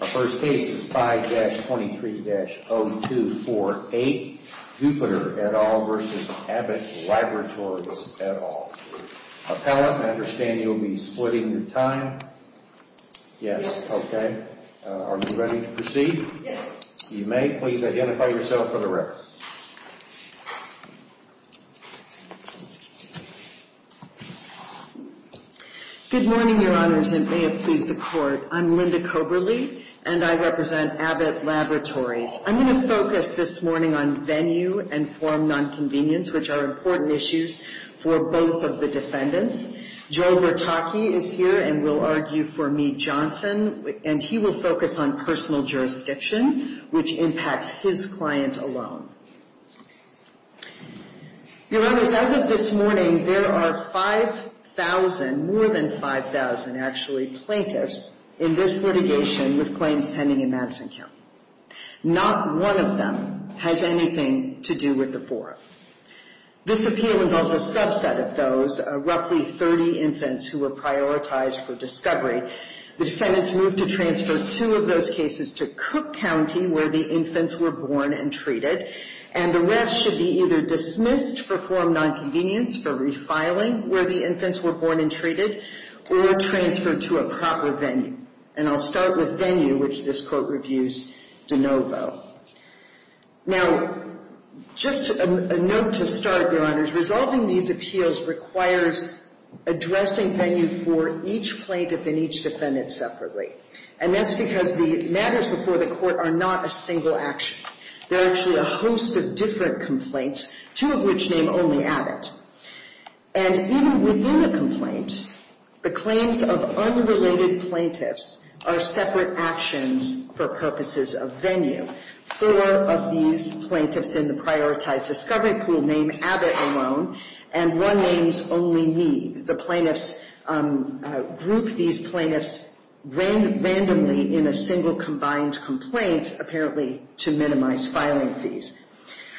The first case is 5-23-0248, Jupiter et al. v. Abbott Laboratories et al. Appellant, I understand you will be splitting your time. Yes. Okay. Are you ready to proceed? Yes. You may. Please identify yourself for the record. Good morning, Your Honors, and may it please the Court. I'm Linda Koberly, and I represent Abbott Laboratories. I'm going to focus this morning on venue and form nonconvenience, which are important issues for both of the defendants. Joe Bertocchi is here and will argue for Meade-Johnson, and he will focus on personal jurisdiction, which impacts his client alone. Your Honors, as of this morning, there are 5,000, more than 5,000 actually, plaintiffs in this litigation with claims pending in Madison County. Not one of them has anything to do with the forum. This appeal involves a subset of those, roughly 30 infants who were prioritized for discovery. The defendants moved to transfer two of those cases to Cook County, where the infants were born and treated, and the rest should be either dismissed for form nonconvenience, for refiling where the infants were born and treated, or transferred to a proper venue. And I'll start with venue, which this Court reviews de novo. Now, just a note to start, Your Honors, resolving these appeals requires addressing venue for each plaintiff and each defendant separately. And that's because the matters before the Court are not a single action. They're actually a host of different complaints, two of which name only Abbott. And even within a complaint, the claims of unrelated plaintiffs are separate actions for purposes of venue. Four of these plaintiffs in the prioritized discovery pool name Abbott alone, and one names only Meade. The plaintiffs group these plaintiffs randomly in a single combined complaint, apparently to minimize filing fees.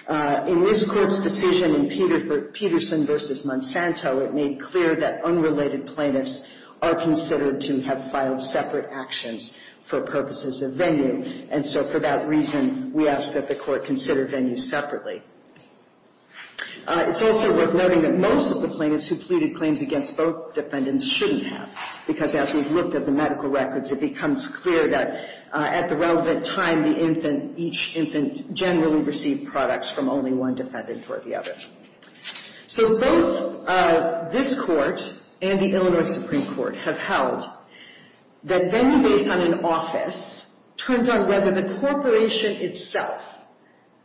In this Court's decision in Peterson v. Monsanto, it made clear that unrelated plaintiffs are considered to have filed separate actions for purposes of venue. And so for that reason, we ask that the Court consider venue separately. It's also worth noting that most of the plaintiffs who pleaded claims against both defendants shouldn't have, because as we've looked at the medical records, it becomes clear that at the relevant time, each infant generally received products from only one defendant or the other. So both this Court and the Illinois Supreme Court have held that venue based on an office turns on whether the corporation itself,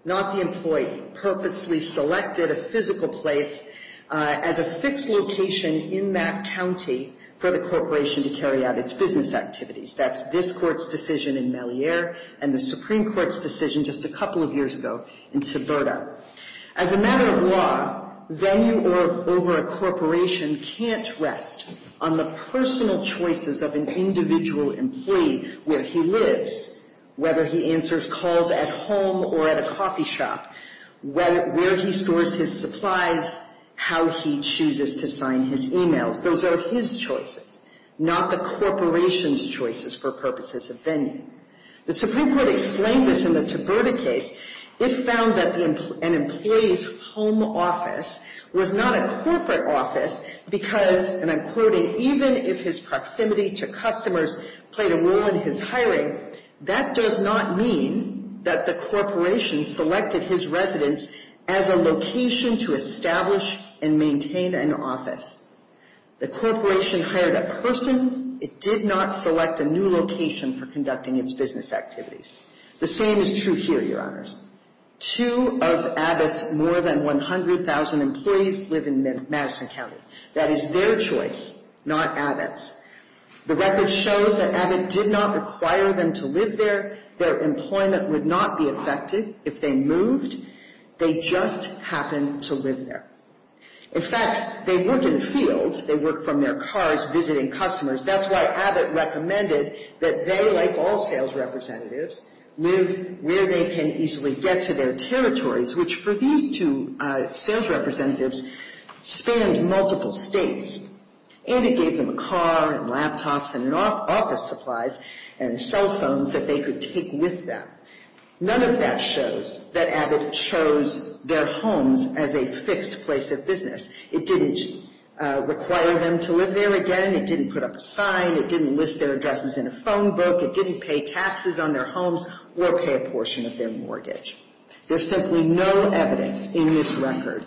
not the employee, purposely selected a physical place as a fixed location in that county for the corporation to carry out its business activities. That's this Court's decision in Mellier and the Supreme Court's decision just a couple of years ago in Toberto. As a matter of law, venue over a corporation can't rest on the personal choices of an individual employee where he lives, whether he answers calls at home or at a coffee shop, where he stores his supplies, how he chooses to sign his e-mails. Those are his choices, not the corporation's choices for purposes of venue. The Supreme Court explained this in the Toberto case. It found that an employee's home office was not a corporate office because, and I'm quoting, even if his proximity to customers played a role in his hiring, that does not mean that the corporation selected his residence as a location to establish and maintain an office. The corporation hired a person. It did not select a new location for conducting its business activities. The same is true here, Your Honors. Two of Abbott's more than 100,000 employees live in Madison County. That is their choice, not Abbott's. The record shows that Abbott did not require them to live there. Their employment would not be affected if they moved. They just happened to live there. In fact, they work in fields. They work from their cars visiting customers. That's why Abbott recommended that they, like all sales representatives, live where they can easily get to their territories, which for these two sales representatives spanned multiple states, and it gave them a car and laptops and office supplies and cell phones that they could take with them. None of that shows that Abbott chose their homes as a fixed place of business. It didn't require them to live there again. It didn't put up a sign. It didn't list their addresses in a phone book. It didn't pay taxes on their homes or pay a portion of their mortgage. There's simply no evidence in this record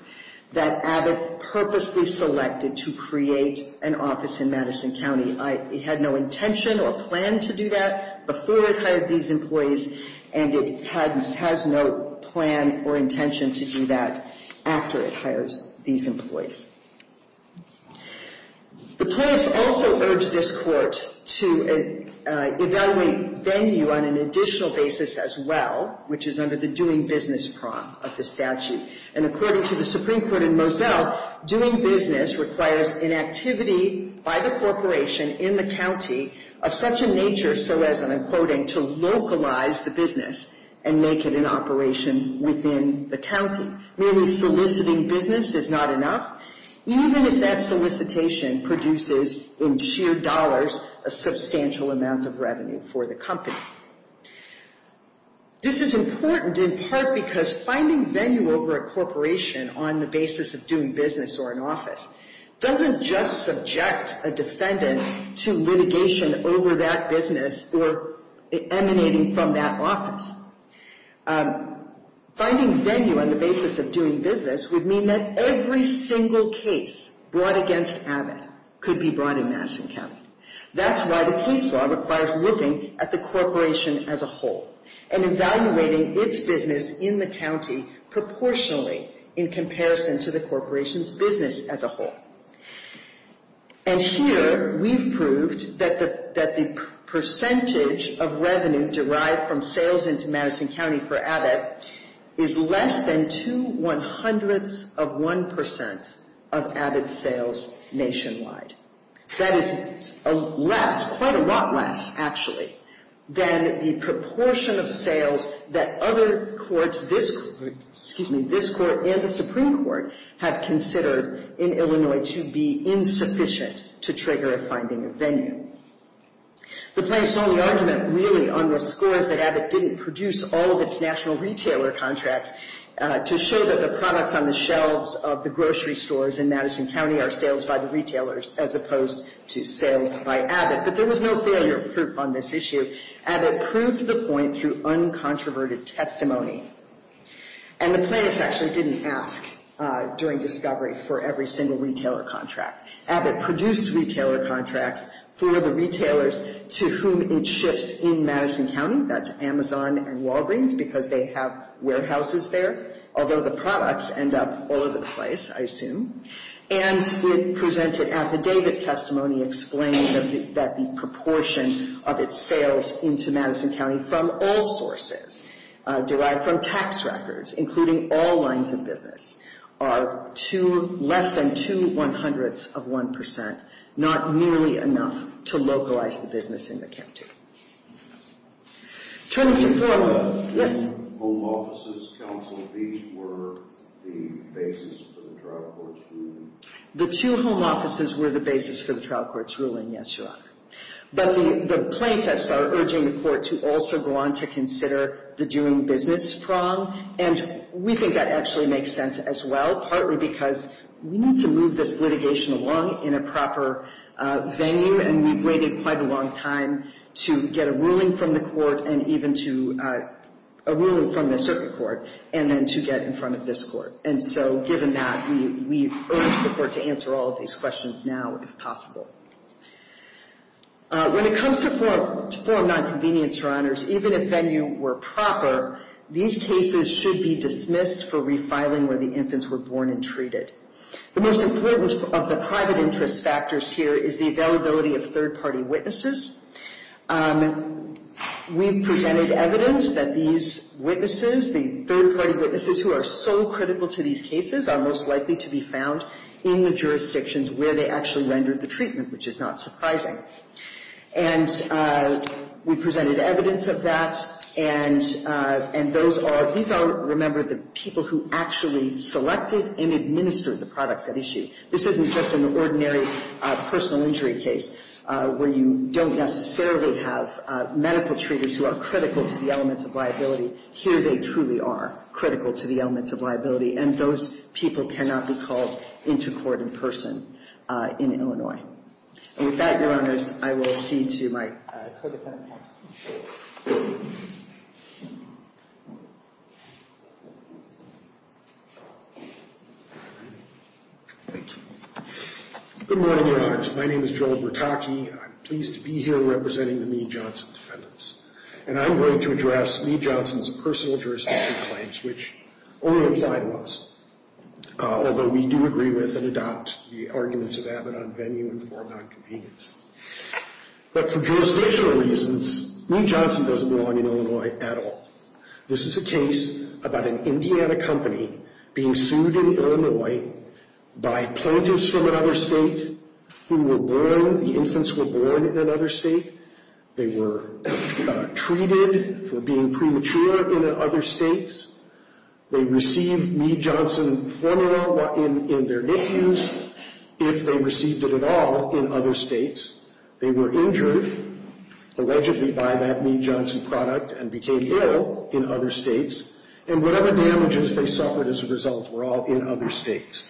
that Abbott purposely selected to create an office in Madison County. It had no intention or plan to do that before it hired these employees, and it has no plan or intention to do that after it hires these employees. The plaintiffs also urged this Court to evaluate venue on an additional basis as well, which is under the doing business prompt of the statute. And according to the Supreme Court in Moselle, doing business requires an activity by the corporation in the county of such a nature so as, and I'm quoting, to localize the business and make it an operation within the county. Merely soliciting business is not enough, even if that solicitation produces in sheer dollars a substantial amount of revenue for the company. This is important in part because finding venue over a corporation on the basis of doing business or an office doesn't just subject a defendant to litigation over that business or emanating from that office. Finding venue on the basis of doing business would mean that every single case brought against Abbott could be brought in Madison County. That's why the case law requires looking at the corporation as a whole and evaluating its business in the county proportionally in comparison to the corporation's business as a whole. And here we've proved that the percentage of revenue derived from sales into Madison County for Abbott is less than two one-hundredths of one percent of Abbott's sales nationwide. That is less, quite a lot less, actually, than the proportion of sales that other courts, this court, excuse me, this court and the Supreme Court have considered in Illinois to be insufficient to trigger a finding of venue. The plaintiff's only argument really on this score is that Abbott didn't produce all of its national retailer contracts to show that the products on the shelves of the grocery stores in Madison County are sales by the retailers as opposed to sales by Abbott. But there was no failure proof on this issue. Abbott proved the point through uncontroverted testimony. And the plaintiff's actually didn't ask during discovery for every single retailer contract. Abbott produced retailer contracts for the retailers to whom it ships in Madison County. That's Amazon and Walgreens because they have warehouses there, although the products end up all over the place, I assume. And with presented affidavit testimony explaining that the proportion of its sales into Madison County from all sources derived from tax records, including all lines of business, are less than two one-hundredths of one percent, not nearly enough to localize the business in the county. Turning to Foreman. Home offices, counsel, these were the basis for the trial court's ruling. The two home offices were the basis for the trial court's ruling, yes, Your Honor. But the plaintiffs are urging the court to also go on to consider the doing business prong, and we think that actually makes sense as well, partly because we need to move this litigation along in a proper venue, and we've waited quite a long time to get a ruling from the court and even to a ruling from the circuit court and then to get in front of this court. And so given that, we urge the court to answer all of these questions now if possible. When it comes to form nonconvenience, Your Honors, even if venue were proper, these cases should be dismissed for refiling where the infants were born and treated. The most important of the private interest factors here is the availability of third-party witnesses. We've presented evidence that these witnesses, the third-party witnesses who are so critical to these cases, are most likely to be found in the jurisdictions where they actually rendered the treatment, which is not surprising. And we presented evidence of that, and those are — these are, remember, the people who actually selected and administered the products at issue. This isn't just an ordinary personal injury case where you don't necessarily have medical treaters who are critical to the elements of liability. Here they truly are critical to the elements of liability, and those people cannot be called into court in person in Illinois. And with that, Your Honors, I will cede to my co-defendant. Thank you. Good morning, Your Honors. My name is Joel Bertocchi, and I'm pleased to be here representing the Meade-Johnson defendants. And I'm going to address Meade-Johnson's personal jurisdiction claims, which only apply to us, although we do agree with and adopt the arguments of Abbott on venue and form nonconvenience. But for jurisdictional reasons, Meade-Johnson doesn't belong in Illinois at all. This is a case about an Indiana company being sued in Illinois by plaintiffs from another state who were born — the infants were born in another state. They were treated for being premature in other states. They received Meade-Johnson formula in their names, if they received it at all, in other states. They were injured, allegedly, by that Meade-Johnson product and became ill in other states. And whatever damages they suffered as a result were all in other states.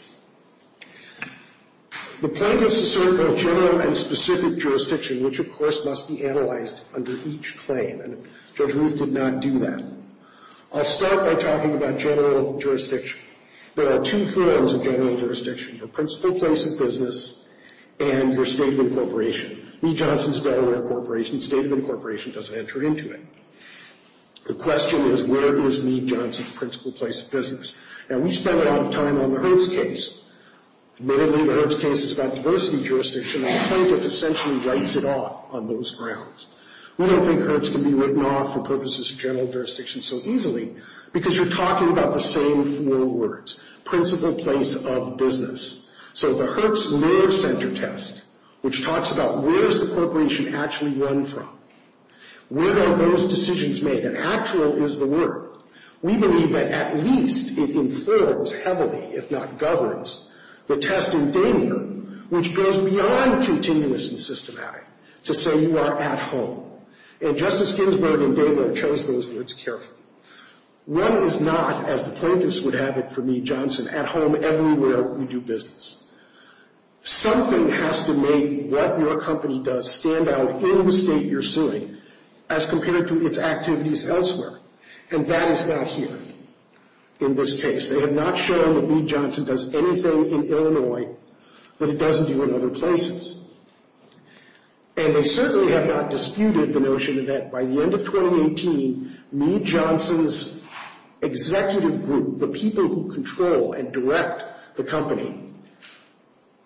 The plaintiffs assert both general and specific jurisdiction, which, of course, must be analyzed under each claim. And Judge Ruth did not do that. I'll start by talking about general jurisdiction. There are two forms of general jurisdiction, the principal place of business and your state of incorporation. Meade-Johnson is a Delaware corporation. State of incorporation doesn't enter into it. The question is, where is Meade-Johnson's principal place of business? Now, we spent a lot of time on the Hurts case. Admittedly, the Hurts case is about diversity jurisdiction, and the plaintiff essentially writes it off on those grounds. We don't think Hurts can be written off for purposes of general jurisdiction so easily because you're talking about the same four words, principal place of business. So the Hurts nerve center test, which talks about where's the corporation actually run from, where are those decisions made, and actual is the word. We believe that at least it informs heavily, if not governs, the test in Damier, which goes beyond continuous and systematic to say you are at home. And Justice Ginsburg in Damier chose those words carefully. One is not, as the plaintiffs would have it for Meade-Johnson, at home everywhere you do business. Something has to make what your company does stand out in the state you're suing as compared to its activities elsewhere, and that is not here in this case. They have not shown that Meade-Johnson does anything in Illinois that it doesn't do in other places. And they certainly have not disputed the notion that by the end of 2018, Meade-Johnson's executive group, the people who control and direct the company,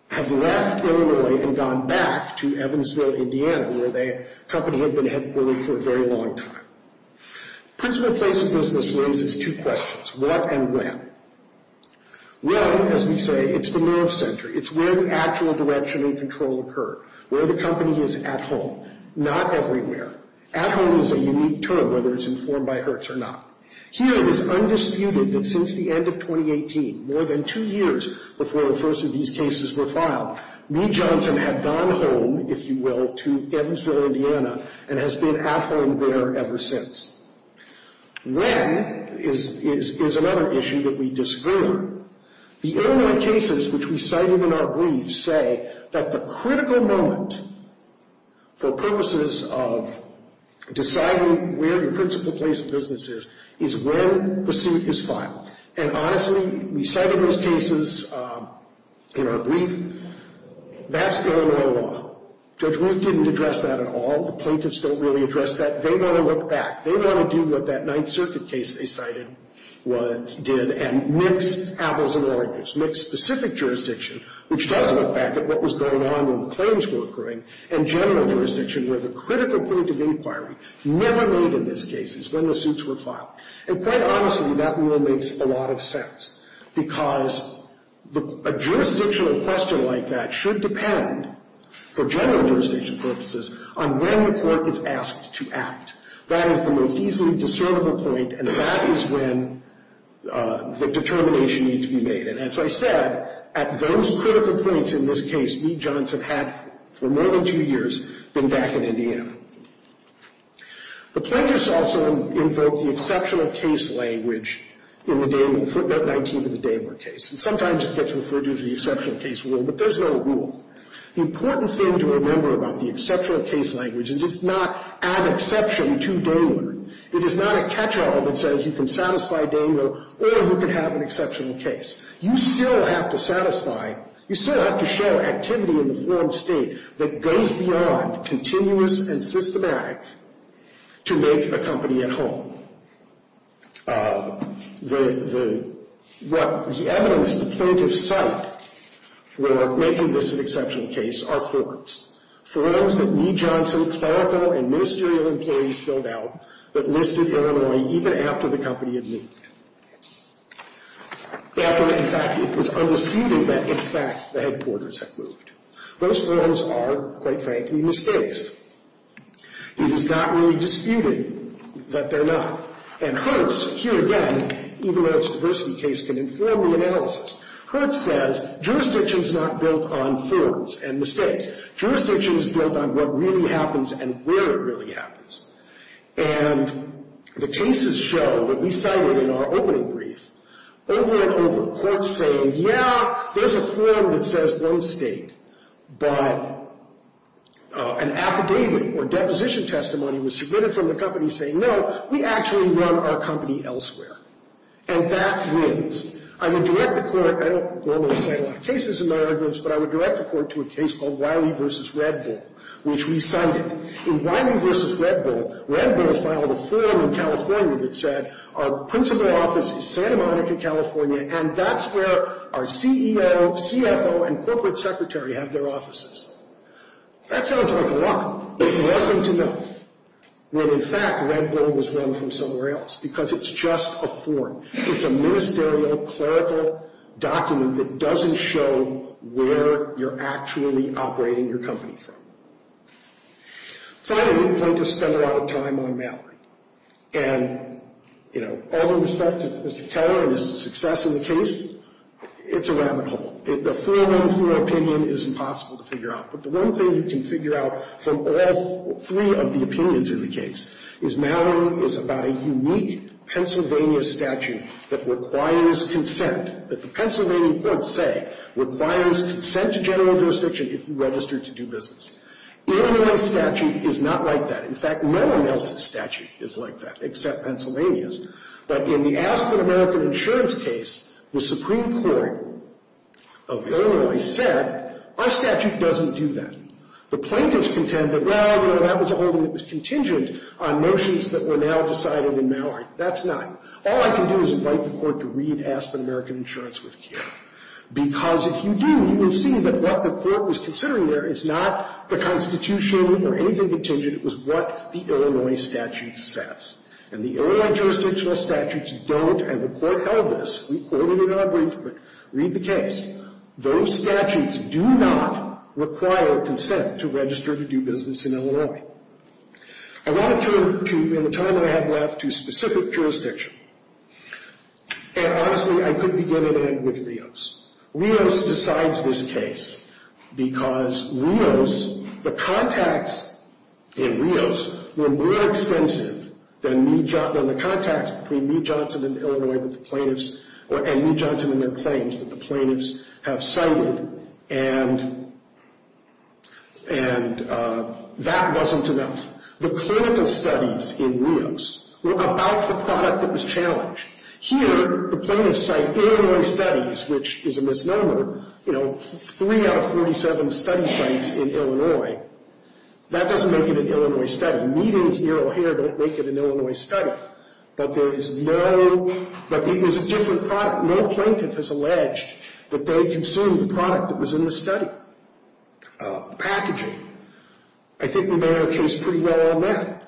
have left Illinois and gone back to Evansville, Indiana, where the company had been headquartered for a very long time. Principal place of business raises two questions, what and when. When, as we say, it's the nerve center. It's where the actual direction and control occur, where the company is at home, not everywhere. At home is a unique term, whether it's informed by Hertz or not. Here it is undisputed that since the end of 2018, more than two years before the first of these cases were filed, Meade-Johnson had gone home, if you will, to Evansville, Indiana, and has been at home there ever since. When is another issue that we disagree on. The Illinois cases which we cited in our briefs say that the critical moment for purposes of deciding where the principal place of business is, is when the suit is filed. And honestly, we cited those cases in our brief. That's Illinois law. Judge Meade didn't address that at all. The plaintiffs don't really address that. They want to look back. They want to do what that Ninth Circuit case they cited did and mix apples and oranges, mix specific jurisdiction, which does look back at what was going on when the claims were occurring, and general jurisdiction where the critical point of inquiry never made in this case is when the suits were filed. And quite honestly, that rule makes a lot of sense because a jurisdictional question like that should depend, for general jurisdiction purposes, on when the court is asked to act. That is the most easily discernible point, and that is when the determination needs to be made. And as I said, at those critical points in this case, Meade-Johnson had, for more than two years, been back in Indiana. The plaintiffs also invoke the exceptional case language in the Damer case, footnote 19 of the Damer case. And sometimes it gets referred to as the exceptional case rule, but there's no rule. The important thing to remember about the exceptional case language is it does not add exception to Damer. It is not a catch-all that says you can satisfy Damer or who can have an exceptional case. You still have to satisfy, you still have to show activity in the formed state that goes beyond continuous and systematic to make a company at home. What the evidence the plaintiffs cite for making this an exceptional case are forms. Forms that Meade-Johnson's clerical and ministerial inquiries filled out that listed Illinois even after the company had moved. After, in fact, it was undisputed that, in fact, the headquarters had moved. Those forms are, quite frankly, mistakes. It is not really disputed that they're not. And Hertz, here again, even though it's a diversity case, can inform the analysis. Hertz says jurisdiction is not built on forms and mistakes. Jurisdiction is built on what really happens and where it really happens. And the cases show that we cited in our opening brief over and over. Courts say, yeah, there's a form that says one state, but an affidavit or deposition testimony was submitted from the company saying, no, we actually run our company elsewhere. And that wins. I would direct the court. I don't normally cite a lot of cases in my arguments, but I would direct the court to a case called Wiley v. Red Bull, which we cited. In Wiley v. Red Bull, Red Bull filed a form in California that said our principal office is Santa Monica, California, and that's where our CEO, CFO, and corporate secretary have their offices. That sounds like a lot, but it wasn't enough. When, in fact, Red Bull was run from somewhere else because it's just a form. It's a ministerial, clerical document that doesn't show where you're actually operating your company from. Finally, we'd like to spend a lot of time on Mallory. And, you know, all in respect to Mr. Keller and his success in the case, it's a rabbit hole. The 4-1-4 opinion is impossible to figure out. But the one thing you can figure out from all three of the opinions in the case is Mallory is about a unique Pennsylvania statute that requires consent, that the Pennsylvania courts say requires consent to general jurisdiction if you register to do business. Illinois' statute is not like that. In fact, no one else's statute is like that except Pennsylvania's. But in the Aspen American Insurance case, the Supreme Court of Illinois said, our statute doesn't do that. The plaintiffs contend that, well, you know, that was a holding that was contingent on notions that were now decided in Mallory. That's not. All I can do is invite the court to read Aspen American Insurance with Keller. Because if you do, you will see that what the court was considering there is not the Constitution or anything contingent. It was what the Illinois statute says. And the Illinois jurisdictional statutes don't, and the court held this, we quoted in our brief, but read the case. Those statutes do not require consent to register to do business in Illinois. I want to turn to, in the time I have left, to specific jurisdiction. And honestly, I could begin and end with Rios. Rios decides this case because Rios, the contacts in Rios were more extensive than the contacts between Mee Johnson and Illinois that the plaintiffs, and Mee Johnson and their claims that the plaintiffs have cited. And that wasn't enough. The clinical studies in Rios were about the product that was challenged. Here, the plaintiffs cite Illinois studies, which is a misnomer. You know, three out of 47 study sites in Illinois, that doesn't make it an Illinois study. Meetings near O'Hare don't make it an Illinois study. But there is no, but it was a different product. No plaintiff has alleged that they consumed the product that was in the study, the packaging. I think the mayor case pretty well on that.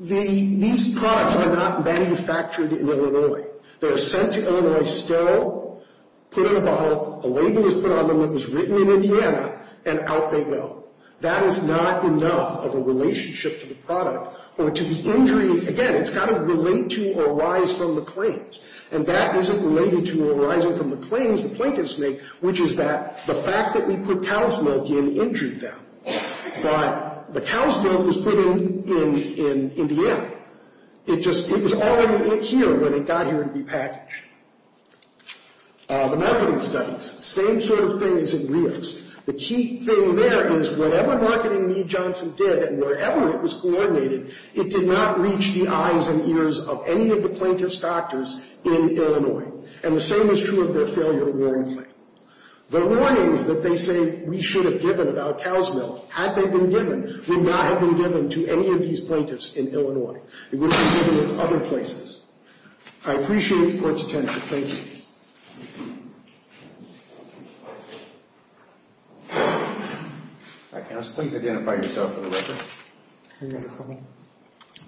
These products are not manufactured in Illinois. They're sent to Illinois, sterile, put in a bottle, a label is put on them that was written in Indiana, and out they go. That is not enough of a relationship to the product or to the injury. Again, it's got to relate to or arise from the claims. And that isn't related to arising from the claims the plaintiffs make, which is that the fact that we put cow's milk in injured them. But the cow's milk was put in Indiana. It just, it was already here when it got here to be packaged. The marketing studies, same sort of thing as in reals. The key thing there is whatever marketing Mee Johnson did and wherever it was coordinated, it did not reach the eyes and ears of any of the plaintiff's doctors in Illinois. And the same is true of their failure to warn the plaintiff. The warnings that they say we should have given about cow's milk, had they been given, would not have been given to any of these plaintiffs in Illinois. It would have been given in other places. I appreciate the court's attention. Thank you. All right, counsel. Please identify yourself for the record.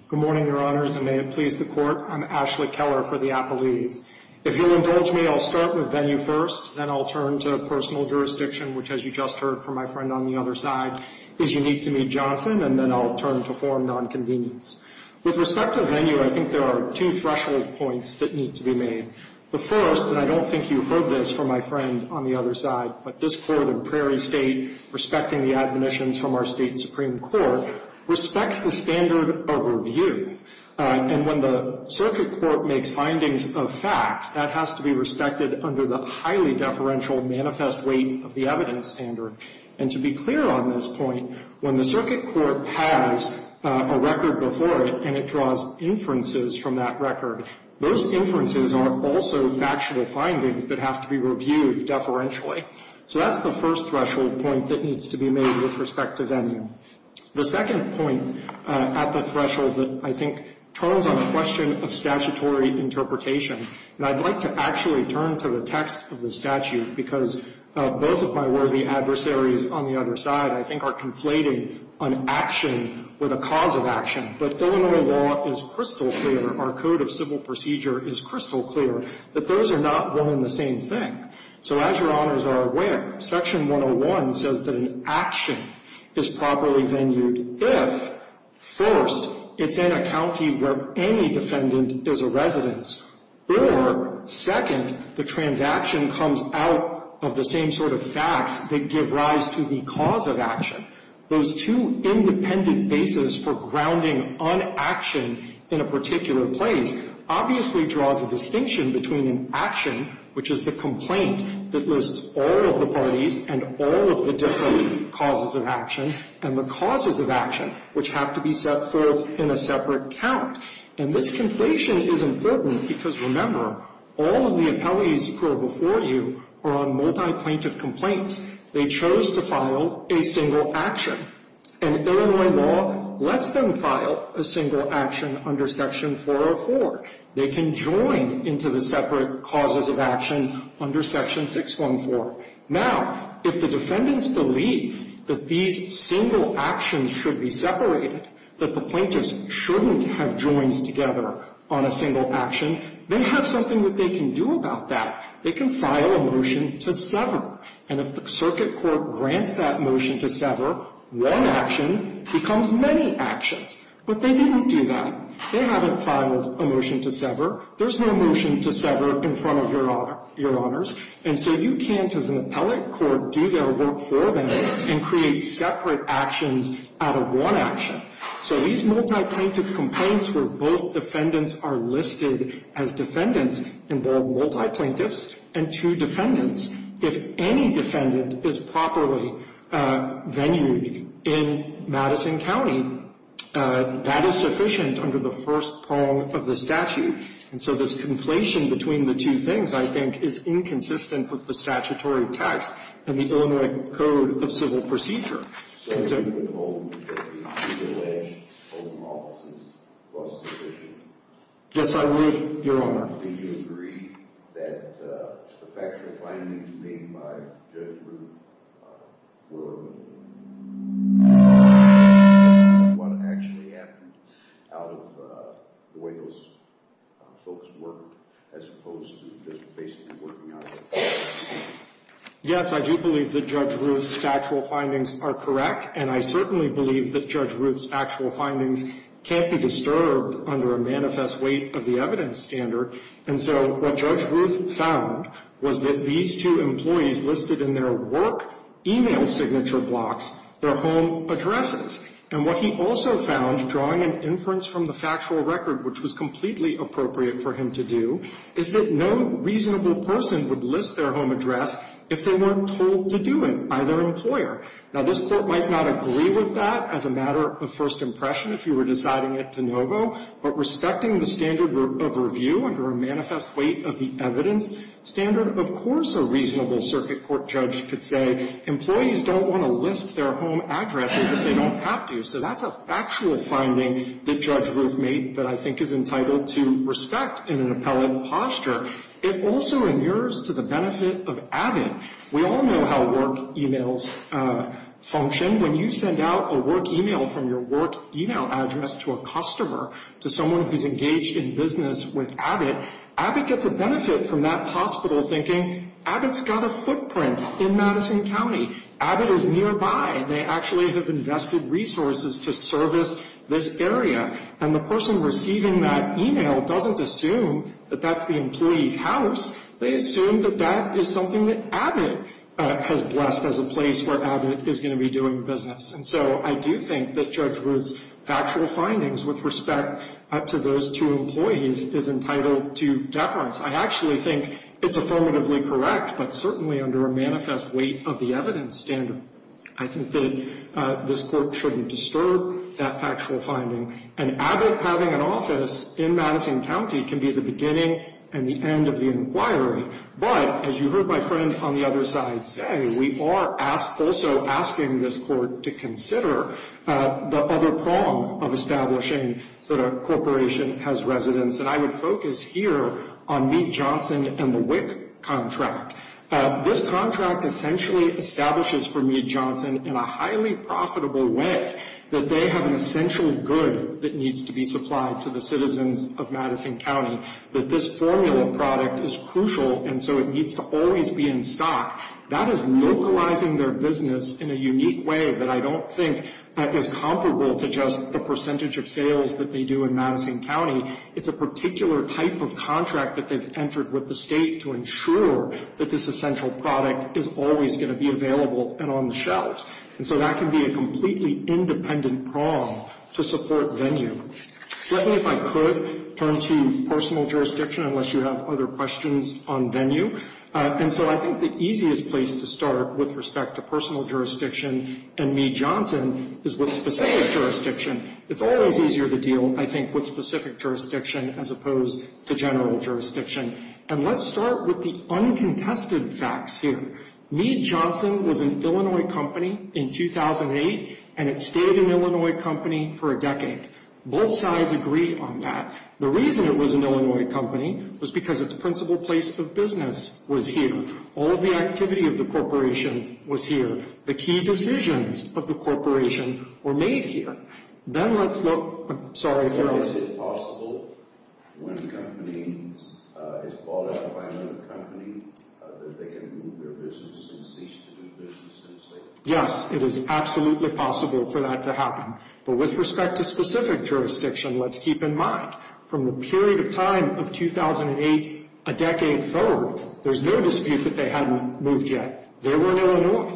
Good morning, Your Honors, and may it please the court. I'm Ashley Keller for the Applebee's. If you'll indulge me, I'll start with venue first, then I'll turn to personal jurisdiction, which, as you just heard from my friend on the other side, is unique to Mee Johnson, and then I'll turn to foreign nonconvenience. With respect to venue, I think there are two threshold points that need to be made. The first, and I don't think you've heard this from my friend on the other side, but this court in Prairie State, respecting the admonitions from our state supreme court, respects the standard of review. And when the circuit court makes findings of fact, that has to be respected under the highly deferential manifest weight of the evidence standard. And to be clear on this point, when the circuit court has a record before it and it draws inferences from that record, those inferences are also factual findings that have to be reviewed deferentially. So that's the first threshold point that needs to be made with respect to venue. The second point at the threshold that I think turns on the question of statutory interpretation, and I'd like to actually turn to the text of the statute because both of my worthy adversaries on the other side, I think, are conflating an action with a cause of action. But Illinois law is crystal clear, our code of civil procedure is crystal clear, that those are not one and the same thing. So as Your Honors are aware, Section 101 says that an action is properly venued if, first, it's in a county where any defendant is a resident, or, second, the transaction comes out of the same sort of facts that give rise to the cause of action. Those two independent bases for grounding on action in a particular place obviously draws a distinction between an action, which is the complaint that lists all of the parties and all of the different causes of action, and the causes of action, which have to be set forth in a separate count. And this conflation is important because, remember, all of the appellees who are before you are on multi-plaintiff complaints. They chose to file a single action. And Illinois law lets them file a single action under Section 404. They can join into the separate causes of action under Section 614. Now, if the defendants believe that these single actions should be separated, that the plaintiffs shouldn't have joins together on a single action, they have something that they can do about that. They can file a motion to sever. And if the circuit court grants that motion to sever, one action becomes many actions. But they didn't do that. They haven't filed a motion to sever. There's no motion to sever in front of Your Honors. And so you can't, as an appellate court, do their work for them and create separate actions out of one action. So these multi-plaintiff complaints where both defendants are listed as defendants involve multi-plaintiffs and two defendants. If any defendant is properly venued in Madison County, that is sufficient under the first prong of the statute. And so this conflation between the two things, I think, is inconsistent with the statutory text in the Illinois Code of Civil Procedure. And so you would hold that the alleged open offices was sufficient? Yes, I would, Your Honor. Do you agree that the factual findings made by Judge Ruth were a mistake? What actually happened out of the way those folks worked as opposed to just basically working on it? Yes, I do believe that Judge Ruth's factual findings are correct. And I certainly believe that Judge Ruth's factual findings can't be disturbed under a manifest weight of the evidence standard. And so what Judge Ruth found was that these two employees listed in their work email signature blocks their home addresses. And what he also found, drawing an inference from the factual record, which was completely appropriate for him to do, is that no reasonable person would list their home address if they weren't told to do it by their employer. Now, this Court might not agree with that as a matter of first impression if you were deciding it de novo. But respecting the standard of review under a manifest weight of the evidence standard, of course a reasonable circuit court judge could say, employees don't want to list their home addresses if they don't have to. So that's a factual finding that Judge Ruth made that I think is entitled to respect in an appellate posture. It also inures to the benefit of adding. We all know how work emails function. When you send out a work email from your work email address to a customer, to someone who's engaged in business with Abbott, Abbott gets a benefit from that hospital thinking Abbott's got a footprint in Madison County. Abbott is nearby. They actually have invested resources to service this area. And the person receiving that email doesn't assume that that's the employee's house. They assume that that is something that Abbott has blessed as a place where Abbott is going to be doing business. And so I do think that Judge Ruth's factual findings with respect to those two employees is entitled to deference. I actually think it's affirmatively correct, but certainly under a manifest weight of the evidence standard. I think that this Court shouldn't disturb that factual finding. And Abbott having an office in Madison County can be the beginning and the end of the inquiry. But as you heard my friend on the other side say, we are also asking this Court to consider the other prong of establishing that a corporation has residence. And I would focus here on Mead-Johnson and the WIC contract. This contract essentially establishes for Mead-Johnson in a highly profitable way that they have an essential good that needs to be supplied to the citizens of Madison County, that this formula product is crucial and so it needs to always be in stock. That is localizing their business in a unique way that I don't think that is comparable to just the percentage of sales that they do in Madison County. It's a particular type of contract that they've entered with the State to ensure that this essential product is always going to be available and on the shelves. And so that can be a completely independent prong to support venue. Let me, if I could, turn to personal jurisdiction unless you have other questions on venue. And so I think the easiest place to start with respect to personal jurisdiction and Mead-Johnson is with specific jurisdiction. It's always easier to deal, I think, with specific jurisdiction as opposed to general jurisdiction. And let's start with the uncontested facts here. Mead-Johnson was an Illinois company in 2008 and it stayed an Illinois company for a decade. Both sides agree on that. The reason it was an Illinois company was because its principal place of business was here. All of the activity of the corporation was here. The key decisions of the corporation were made here. Then let's look, I'm sorry. Is it possible when a company is bought out by another company that they can move their business and cease to do business? Yes, it is absolutely possible for that to happen. But with respect to specific jurisdiction, let's keep in mind from the period of time of 2008, a decade forward, there's no dispute that they hadn't moved yet. They were in Illinois.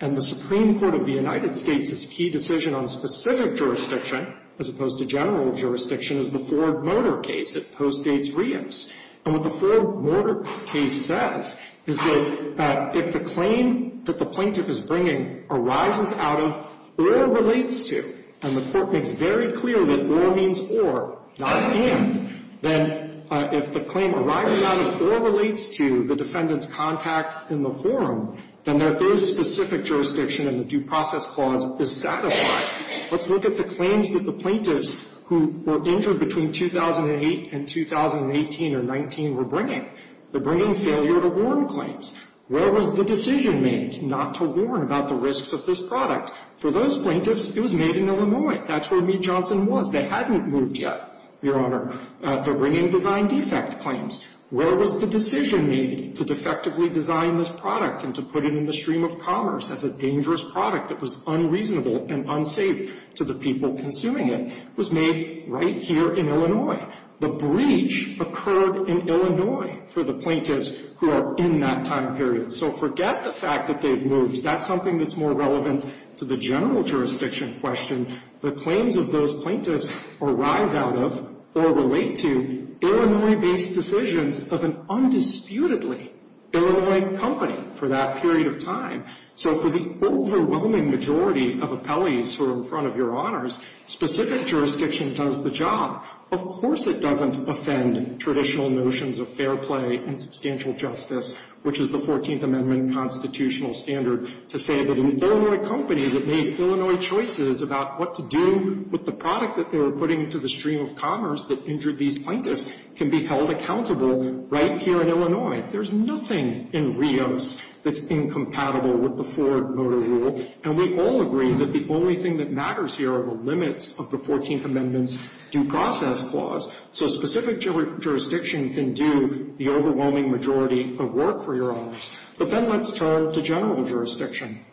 And the Supreme Court of the United States' key decision on specific jurisdiction as opposed to general jurisdiction is the Ford Motor case at Post-8s Reims. And what the Ford Motor case says is that if the claim that the plaintiff is bringing arises out of or relates to, and the court makes very clear that or means or, not and, then if the claim arises out of or relates to the defendant's contact in the forum, then there is specific jurisdiction and the due process clause is satisfied. Let's look at the claims that the plaintiffs who were injured between 2008 and 2018 or 19 were bringing. They're bringing failure to warn claims. Where was the decision made not to warn about the risks of this product? For those plaintiffs, it was made in Illinois. That's where Meade Johnson was. They hadn't moved yet, Your Honor. They're bringing design defect claims. Where was the decision made to defectively design this product and to put it in the stream of commerce as a dangerous product that was unreasonable and unsafe to the people consuming it? It was made right here in Illinois. The breach occurred in Illinois for the plaintiffs who are in that time period. So forget the fact that they've moved. That's something that's more relevant to the general jurisdiction question. The claims of those plaintiffs arise out of or relate to Illinois-based decisions of an undisputedly Illinois company for that period of time. So for the overwhelming majority of appellees who are in front of Your Honors, specific jurisdiction does the job. Of course it doesn't offend traditional notions of fair play and substantial justice, which is the 14th Amendment constitutional standard, to say that an Illinois company that made Illinois choices about what to do with the product that they were putting into the stream of commerce that injured these plaintiffs can be held accountable right here in Illinois. There's nothing in Rios that's incompatible with the Ford Motor Rule, and we all agree that the only thing that matters here are the limits of the 14th Amendment's due process clause, so specific jurisdiction can do the overwhelming majority of work for Your Honors. But then let's turn to general jurisdiction.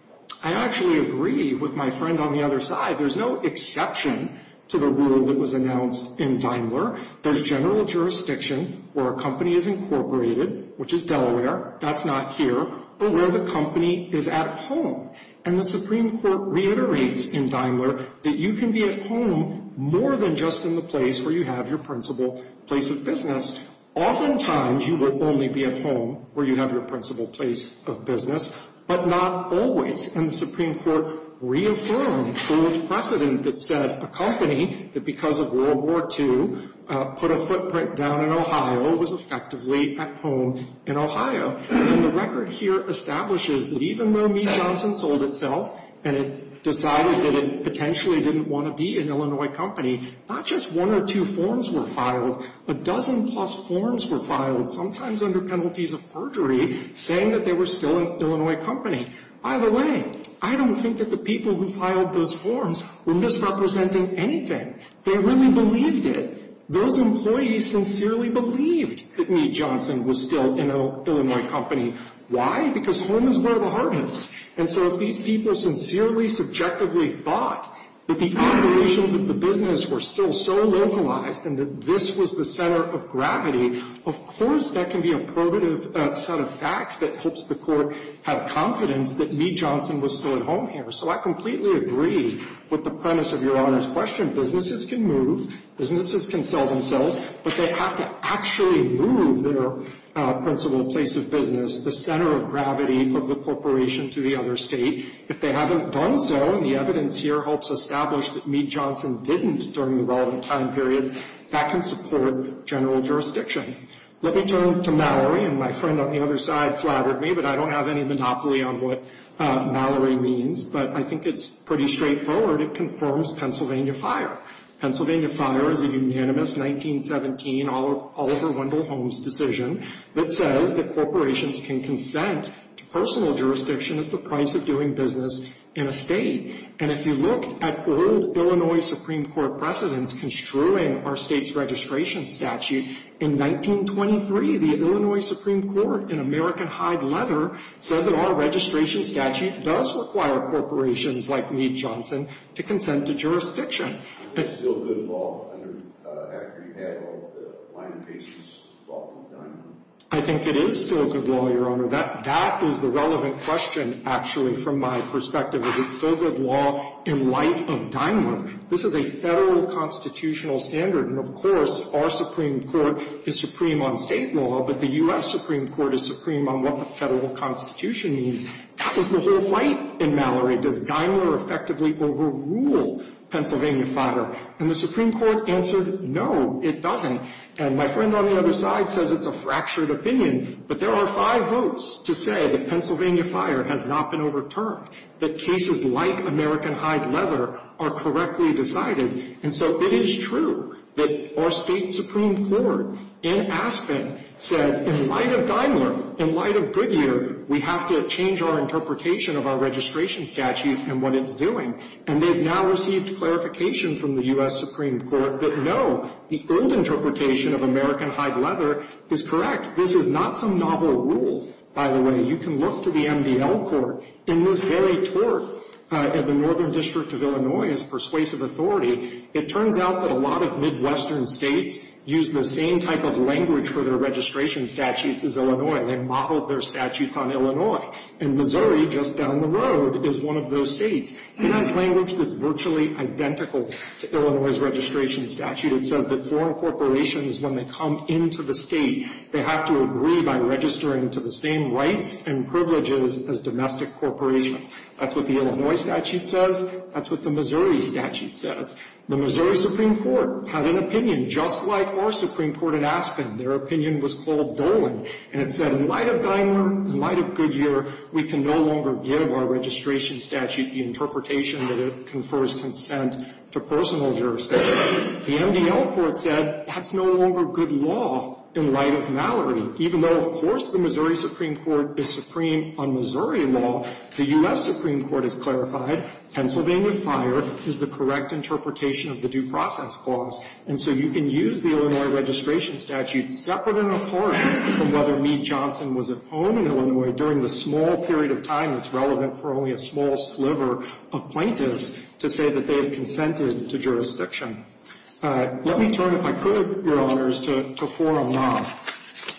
I actually agree with my friend on the other side. There's no exception to the rule that was announced in Daimler. There's general jurisdiction where a company is incorporated, which is Delaware. That's not here, but where the company is at home. And the Supreme Court reiterates in Daimler that you can be at home more than just in the place where you have your principal place of business. Oftentimes you will only be at home where you have your principal place of business, but not always. And the Supreme Court reaffirmed the precedent that said a company that because of World War II put a footprint down in Ohio was effectively at home in Ohio. And the record here establishes that even though Meade Johnson sold itself and it decided that it potentially didn't want to be an Illinois company, not just one or two forms were filed. A dozen-plus forms were filed, sometimes under penalties of perjury, saying that they were still an Illinois company. By the way, I don't think that the people who filed those forms were misrepresenting anything. They really believed it. Those employees sincerely believed that Meade Johnson was still an Illinois company. Why? Because home is where the heart is. And so if these people sincerely, subjectively thought that the operations of the business were still so localized and that this was the center of gravity, of course that can be a probative set of facts that helps the Court have confidence that Meade Johnson was still at home here. So I completely agree with the premise of Your Honor's question. Businesses can move. Businesses can sell themselves. But they have to actually move their principal place of business, the center of gravity of the corporation, to the other state. If they haven't done so, and the evidence here helps establish that Meade Johnson didn't during the relevant time periods, that can support general jurisdiction. Let me turn to Mallory, and my friend on the other side flattered me, but I don't have any monopoly on what Mallory means. But I think it's pretty straightforward. It confirms Pennsylvania Fire. Pennsylvania Fire is a unanimous 1917 Oliver Wendell Holmes decision that says that corporations can consent to personal jurisdiction as the price of doing business in a state. And if you look at old Illinois Supreme Court precedents construing our state's registration statute, in 1923 the Illinois Supreme Court, in American Hyde Letter, said that our registration statute does require corporations like Meade Johnson to consent to jurisdiction. Is it still good law after you have all the line cases brought to Dynamo? I think it is still good law, Your Honor. That is the relevant question, actually, from my perspective. Is it still good law in light of Dynamo? This is a Federal constitutional standard. And, of course, our Supreme Court is supreme on state law, but the U.S. Supreme Court is supreme on what the Federal Constitution means. That was the whole fight in Mallory. Does Dynamo effectively overrule Pennsylvania Fire? And the Supreme Court answered, no, it doesn't. And my friend on the other side says it's a fractured opinion, but there are five votes to say that Pennsylvania Fire has not been overturned, that cases like American Hyde Letter are correctly decided. And so it is true that our State Supreme Court, in Aspen, said, in light of Daimler, in light of Goodyear, we have to change our interpretation of our registration statute and what it's doing. And they've now received clarification from the U.S. Supreme Court that, no, the old interpretation of American Hyde Letter is correct. This is not some novel rule, by the way. You can look to the MDL court. In this very tort at the Northern District of Illinois as persuasive authority, it turns out that a lot of Midwestern states use the same type of language for their registration statutes as Illinois. They modeled their statutes on Illinois. And Missouri, just down the road, is one of those states. It has language that's virtually identical to Illinois' registration statute. It says that foreign corporations, when they come into the state, they have to agree by registering to the same rights and privileges as domestic corporations. That's what the Illinois statute says. That's what the Missouri statute says. The Missouri Supreme Court had an opinion, just like our Supreme Court at Aspen. Their opinion was called Dolan. And it said, in light of Daimler, in light of Goodyear, we can no longer give our registration statute the interpretation that it confers consent to personal jurisdiction. The MDL court said, that's no longer good law in light of Mallory. Even though, of course, the Missouri Supreme Court is supreme on Missouri law, the U.S. Supreme Court has clarified Pennsylvania Fire is the correct interpretation of the due process clause. And so you can use the Illinois registration statute separate and apart from whether Meade Johnson was at home in Illinois during the small period of time that's relevant for only a small sliver of plaintiffs to say that they have consented to jurisdiction. Let me turn, if I could, Your Honors, to forum law.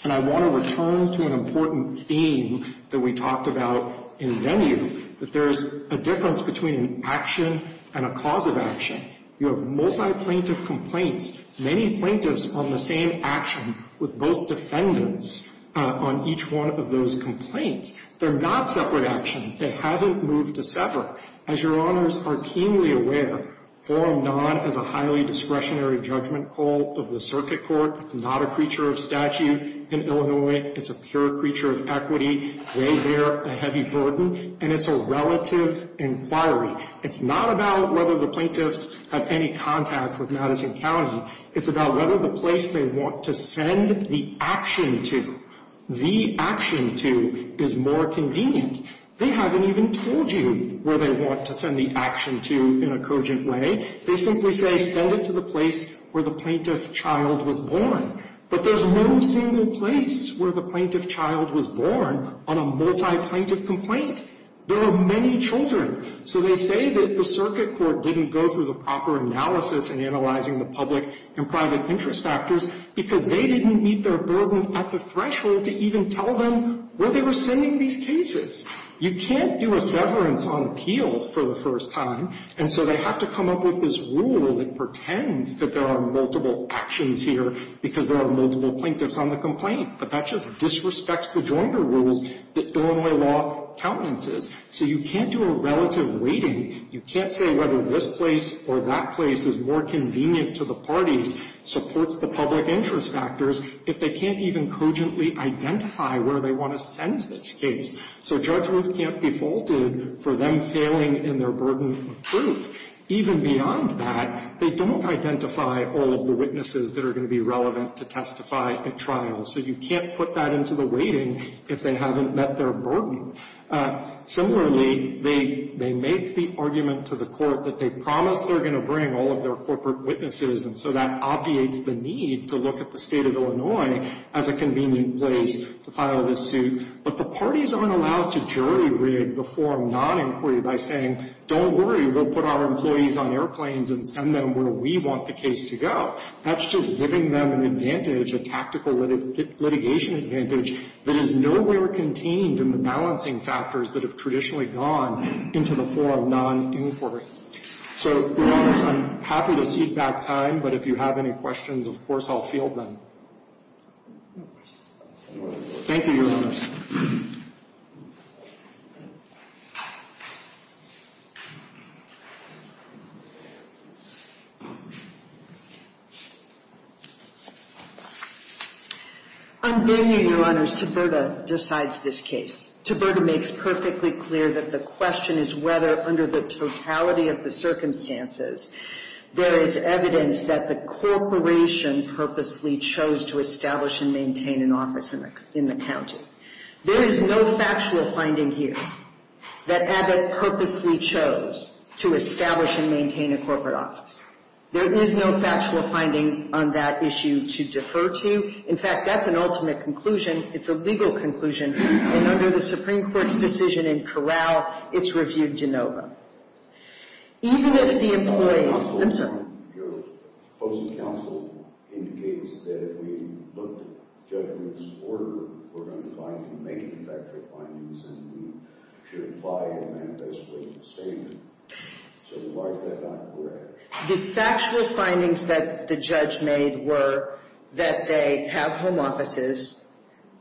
And I want to return to an important theme that we talked about in venue, that there's a difference between an action and a cause of action. You have multi-plaintiff complaints. Many plaintiffs on the same action with both defendants on each one of those complaints. They're not separate actions. They haven't moved to separate. As Your Honors are keenly aware, forum law is a highly discretionary judgment call of the circuit court. It's not a creature of statute in Illinois. It's a pure creature of equity. They bear a heavy burden. And it's a relative inquiry. It's not about whether the plaintiffs have any contact with Madison County. It's about whether the place they want to send the action to, the action to, is more convenient. They haven't even told you where they want to send the action to in a cogent way. They simply say send it to the place where the plaintiff child was born. But there's no single place where the plaintiff child was born on a multi-plaintiff complaint. There are many children. So they say that the circuit court didn't go through the proper analysis in analyzing the public and private interest factors because they didn't meet their burden at the threshold to even tell them where they were sending these cases. You can't do a severance on appeal for the first time. And so they have to come up with this rule that pretends that there are multiple actions here because there are multiple plaintiffs on the complaint. But that just disrespects the joinder rules that Illinois law countenances. So you can't do a relative weighting. You can't say whether this place or that place is more convenient to the parties, supports the public interest factors, if they can't even cogently identify where they want to send this case. So Judge Ruth can't be faulted for them failing in their burden of proof. Even beyond that, they don't identify all of the witnesses that are going to be relevant to testify at trial. So you can't put that into the weighting if they haven't met their burden. Similarly, they make the argument to the court that they promise they're going to bring all of their corporate witnesses, and so that obviates the need to look at the State of Illinois as a convenient place to file this suit. But the parties aren't allowed to jury-rig the forum non-inquiry by saying, don't worry, we'll put our employees on airplanes and send them where we want the case to go. That's just giving them an advantage, a tactical litigation advantage, that is nowhere contained in the balancing factors that have traditionally gone into the forum non-inquiry. So, Your Honors, I'm happy to cede back time, but if you have any questions, of course I'll field them. Thank you, Your Honors. I'm being here, Your Honors. Taberta decides this case. Taberta makes perfectly clear that the question is whether, under the totality of the circumstances, there is evidence that the corporation purposely chose to establish and maintain an office in the county. There is no factual finding here that Abbott purposely chose to establish and maintain a corporate office. There is no factual finding on that issue to defer to. In fact, that's an ultimate conclusion. It's a legal conclusion, and under the Supreme Court's decision in Corral, it's reviewed de novo. Even if the employees – I'm sorry. Your opposing counsel indicates that if we looked at judgment's order, we're going to try to make it a factual finding, and we should apply it and basically abstain it. So why is that not correct? The factual findings that the judge made were that they have home offices,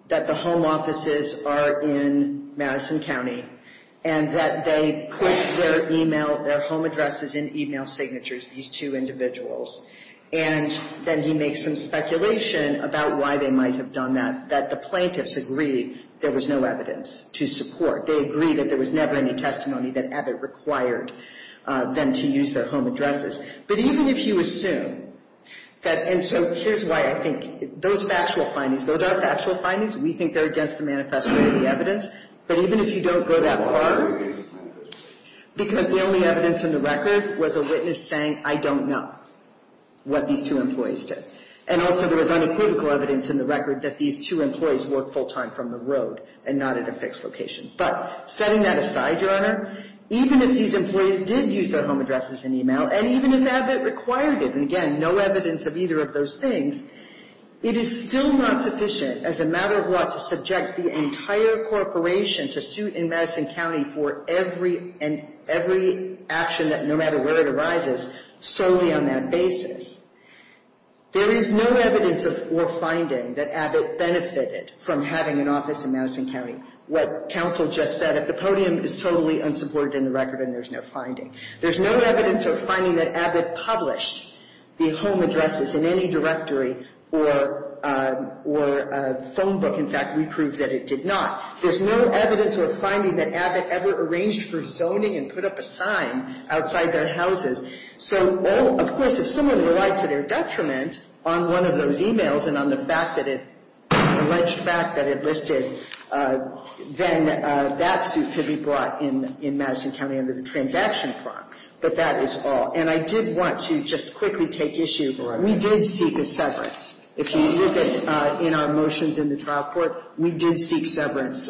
that the home offices are in Madison County, and that they put their home addresses and email signatures, these two individuals. And then he makes some speculation about why they might have done that, that the plaintiffs agree there was no evidence to support. They agree that there was never any testimony that Abbott required them to use their home addresses. But even if you assume that – and so here's why I think those factual findings, those are factual findings. We think they're against the manifesto of the evidence. But even if you don't go that far, because the only evidence in the record was a witness saying, I don't know what these two employees did. And also there was unequivocal evidence in the record that these two employees worked full time from the road and not at a fixed location. But setting that aside, Your Honor, even if these employees did use their home addresses and email, and even if Abbott required it, and again, no evidence of either of those things, it is still not sufficient as a matter of law to subject the entire corporation to suit in Madison County for every action, no matter where it arises, solely on that basis. There is no evidence or finding that Abbott benefited from having an office in Madison County. What counsel just said, if the podium is totally unsupported in the record and there's no finding. There's no evidence or finding that Abbott published the home addresses in any directory or phone book. In fact, we proved that it did not. There's no evidence or finding that Abbott ever arranged for zoning and put up a sign outside their houses. So, of course, if someone relied to their detriment on one of those emails and on the alleged fact that it listed, then that suit could be brought in Madison County under the transaction prompt. But that is all. And I did want to just quickly take issue. We did seek a severance. If you look at our motions in the trial court, we did seek severance.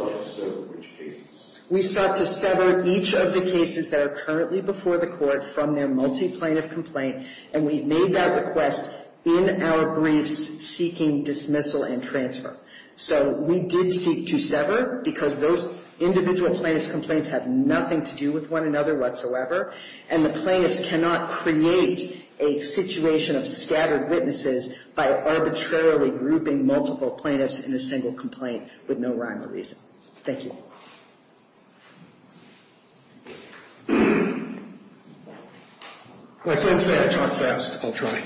We sought to sever each of the cases that are currently before the court from their multi-plaintiff complaint, and we made that request in our briefs seeking dismissal and transfer. So we did seek to sever because those individual plaintiff's complaints have nothing to do with one another whatsoever, and the plaintiffs cannot create a situation of scattered witnesses by arbitrarily grouping multiple plaintiffs in a single complaint with no rhyme or reason. Thank you. Well, since I talk fast, I'll try.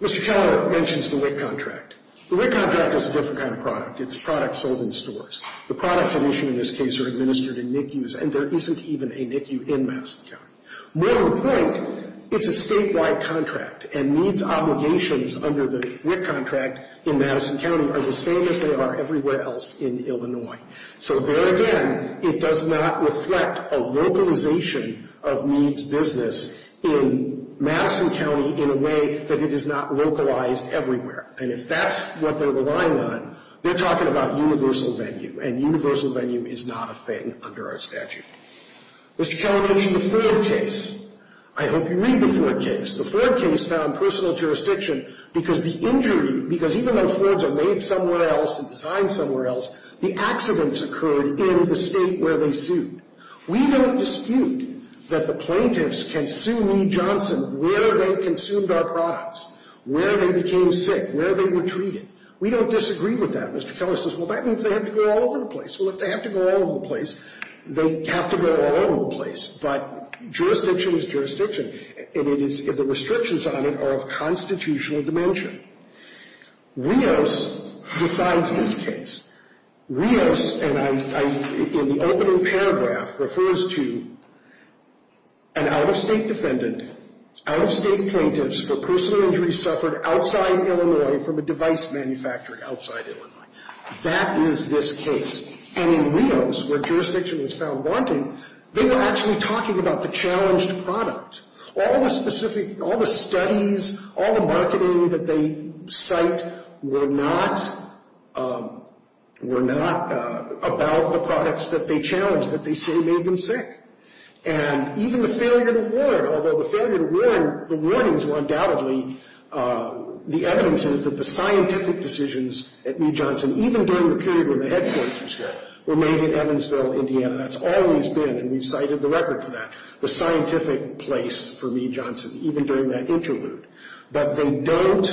Mr. Keller mentions the WIC contract. The WIC contract is a different kind of product. It's products sold in stores. The products at issue in this case are administered in NICUs, and there isn't even a NICU in Madison County. More to the point, it's a statewide contract, and needs obligations under the WIC contract in Madison County are the same as they are everywhere else in Illinois. So there again, it does not reflect a localization of needs business in Madison County in a way that it is not localized everywhere. And if that's what they're relying on, they're talking about universal venue, and universal venue is not a thing under our statute. Mr. Keller mentioned the Ford case. I hope you read the Ford case. The Ford case found personal jurisdiction because the injury, because even though Fords are made somewhere else and designed somewhere else, the accidents occurred in the state where they sued. We don't dispute that the plaintiffs can sue me, Johnson, where they consumed our products, where they became sick, where they were treated. We don't disagree with that. Mr. Keller says, well, that means they have to go all over the place. Well, if they have to go all over the place, they have to go all over the place. But jurisdiction is jurisdiction, and the restrictions on it are of constitutional dimension. Rios decides this case. Rios, in the opening paragraph, refers to an out-of-state defendant, out-of-state plaintiffs for personal injuries suffered outside Illinois from a device manufactured outside Illinois. That is this case. And in Rios, where jurisdiction was found wanting, they were actually talking about the challenged product. All the specific, all the studies, all the marketing that they cite, were not about the products that they challenged, that they say made them sick. And even the failure to warn, although the failure to warn, the warnings were undoubtedly the evidences that the scientific decisions at New Johnson, even during the period when the headquarters were made in Evansville, Indiana, that's always been, and we've cited the record for that, the scientific place for New Johnson, even during that interlude. But they don't,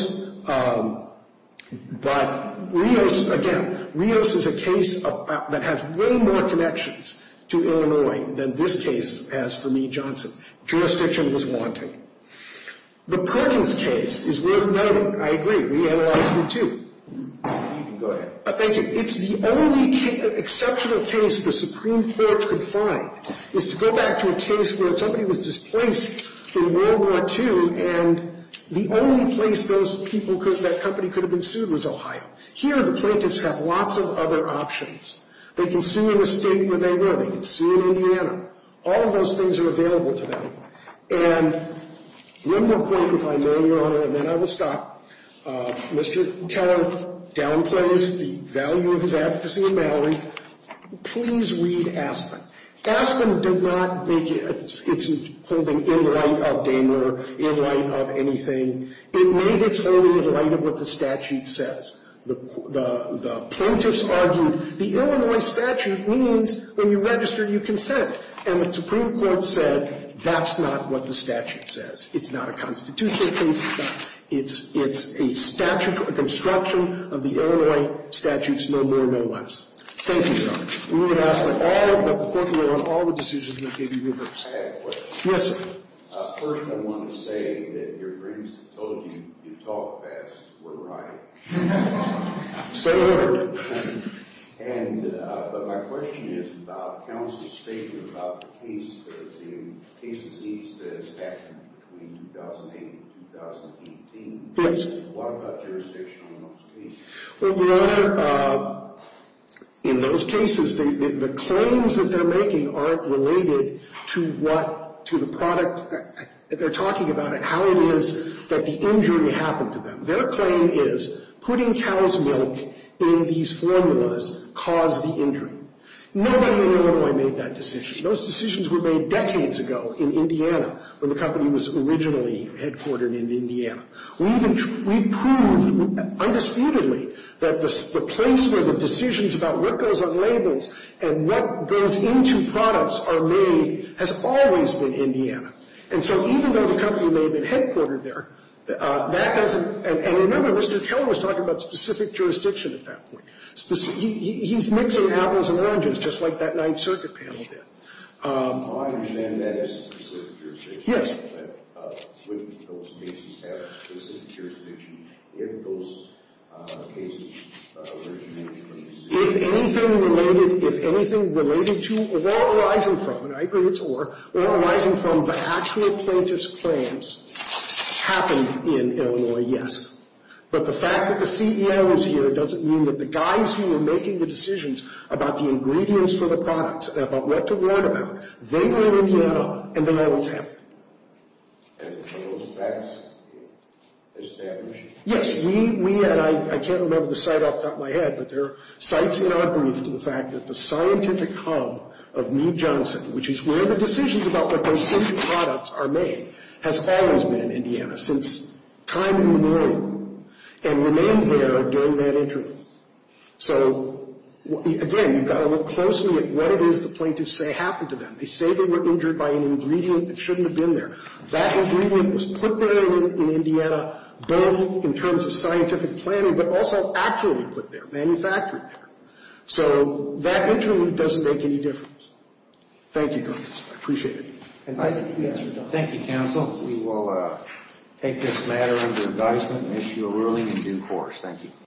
but Rios, again, Rios is a case that has way more connections to Illinois than this case has for New Johnson. Jurisdiction was wanting. The Perkins case is worth noting. I agree. We analyzed it, too. Go ahead. Thank you. It's the only exceptional case the Supreme Court could find, is to go back to a case where somebody was displaced in World War II, and the only place those people could, that company could have been sued was Ohio. Here, the plaintiffs have lots of other options. They can sue in a state where they were. They can sue in Indiana. All of those things are available to them. And one more point, if I may, Your Honor, and then I will stop. Mr. Carroll downplays the value of his advocacy of Mallory. Please read Aspen. Aspen did not make its holding in light of Daimler, in light of anything. It made its own in light of what the statute says. The plaintiffs argued the Illinois statute means when you register, you consent. And the Supreme Court said that's not what the statute says. It's not a constitutional case. It's a statute, a construction of the Illinois statutes, no more, no less. Thank you, Your Honor. We would ask that all of the court to vote on all the decisions that have been given. I have a question. Yes, sir. First, I want to say that your friends told you you talk fast. We're right. Say a word. But my question is about counsel's statement about the cases he says happened between 2008 and 2018. Yes. What about jurisdiction on those cases? Well, Your Honor, in those cases, the claims that they're making aren't related to what, to the product. They're talking about it, how it is that the injury happened to them. Their claim is putting cow's milk in these formulas caused the injury. Nobody in Illinois made that decision. Those decisions were made decades ago in Indiana when the company was originally headquartered in Indiana. We've proved undisputedly that the place where the decisions about what goes on labels and what goes into products are made has always been Indiana. And so even though the company may have been headquartered there, that doesn't – and remember, Mr. Keller was talking about specific jurisdiction at that point. He's mixing apples and oranges, just like that Ninth Circuit panel did. Well, I understand that it's a specific jurisdiction. Yes. But wouldn't those cases have a specific jurisdiction if those cases originated from Mississippi? If anything related – if anything related to or arising from – and I agree it's or – the actual plaintiff's claims happened in Illinois, yes. But the fact that the CEO is here doesn't mean that the guys who were making the decisions about the ingredients for the products and about what to write about, they were in Indiana and they always have been. And were those facts established? Yes. We had – I can't remember the site off the top of my head, but there are sites in our brief to the fact that the scientific hub of Mead Johnson, which is where the decisions about what those ingredient products are made, has always been in Indiana since time immemorial and remained there during that interlude. So, again, you've got to look closely at what it is the plaintiffs say happened to them. They say they were injured by an ingredient that shouldn't have been there. That ingredient was put there in Indiana both in terms of scientific planning but also actually put there, manufactured there. So that interlude doesn't make any difference. Thank you, counsel. I appreciate it. Thank you, counsel. We will take this matter under advisement and issue a ruling in due course. Thank you.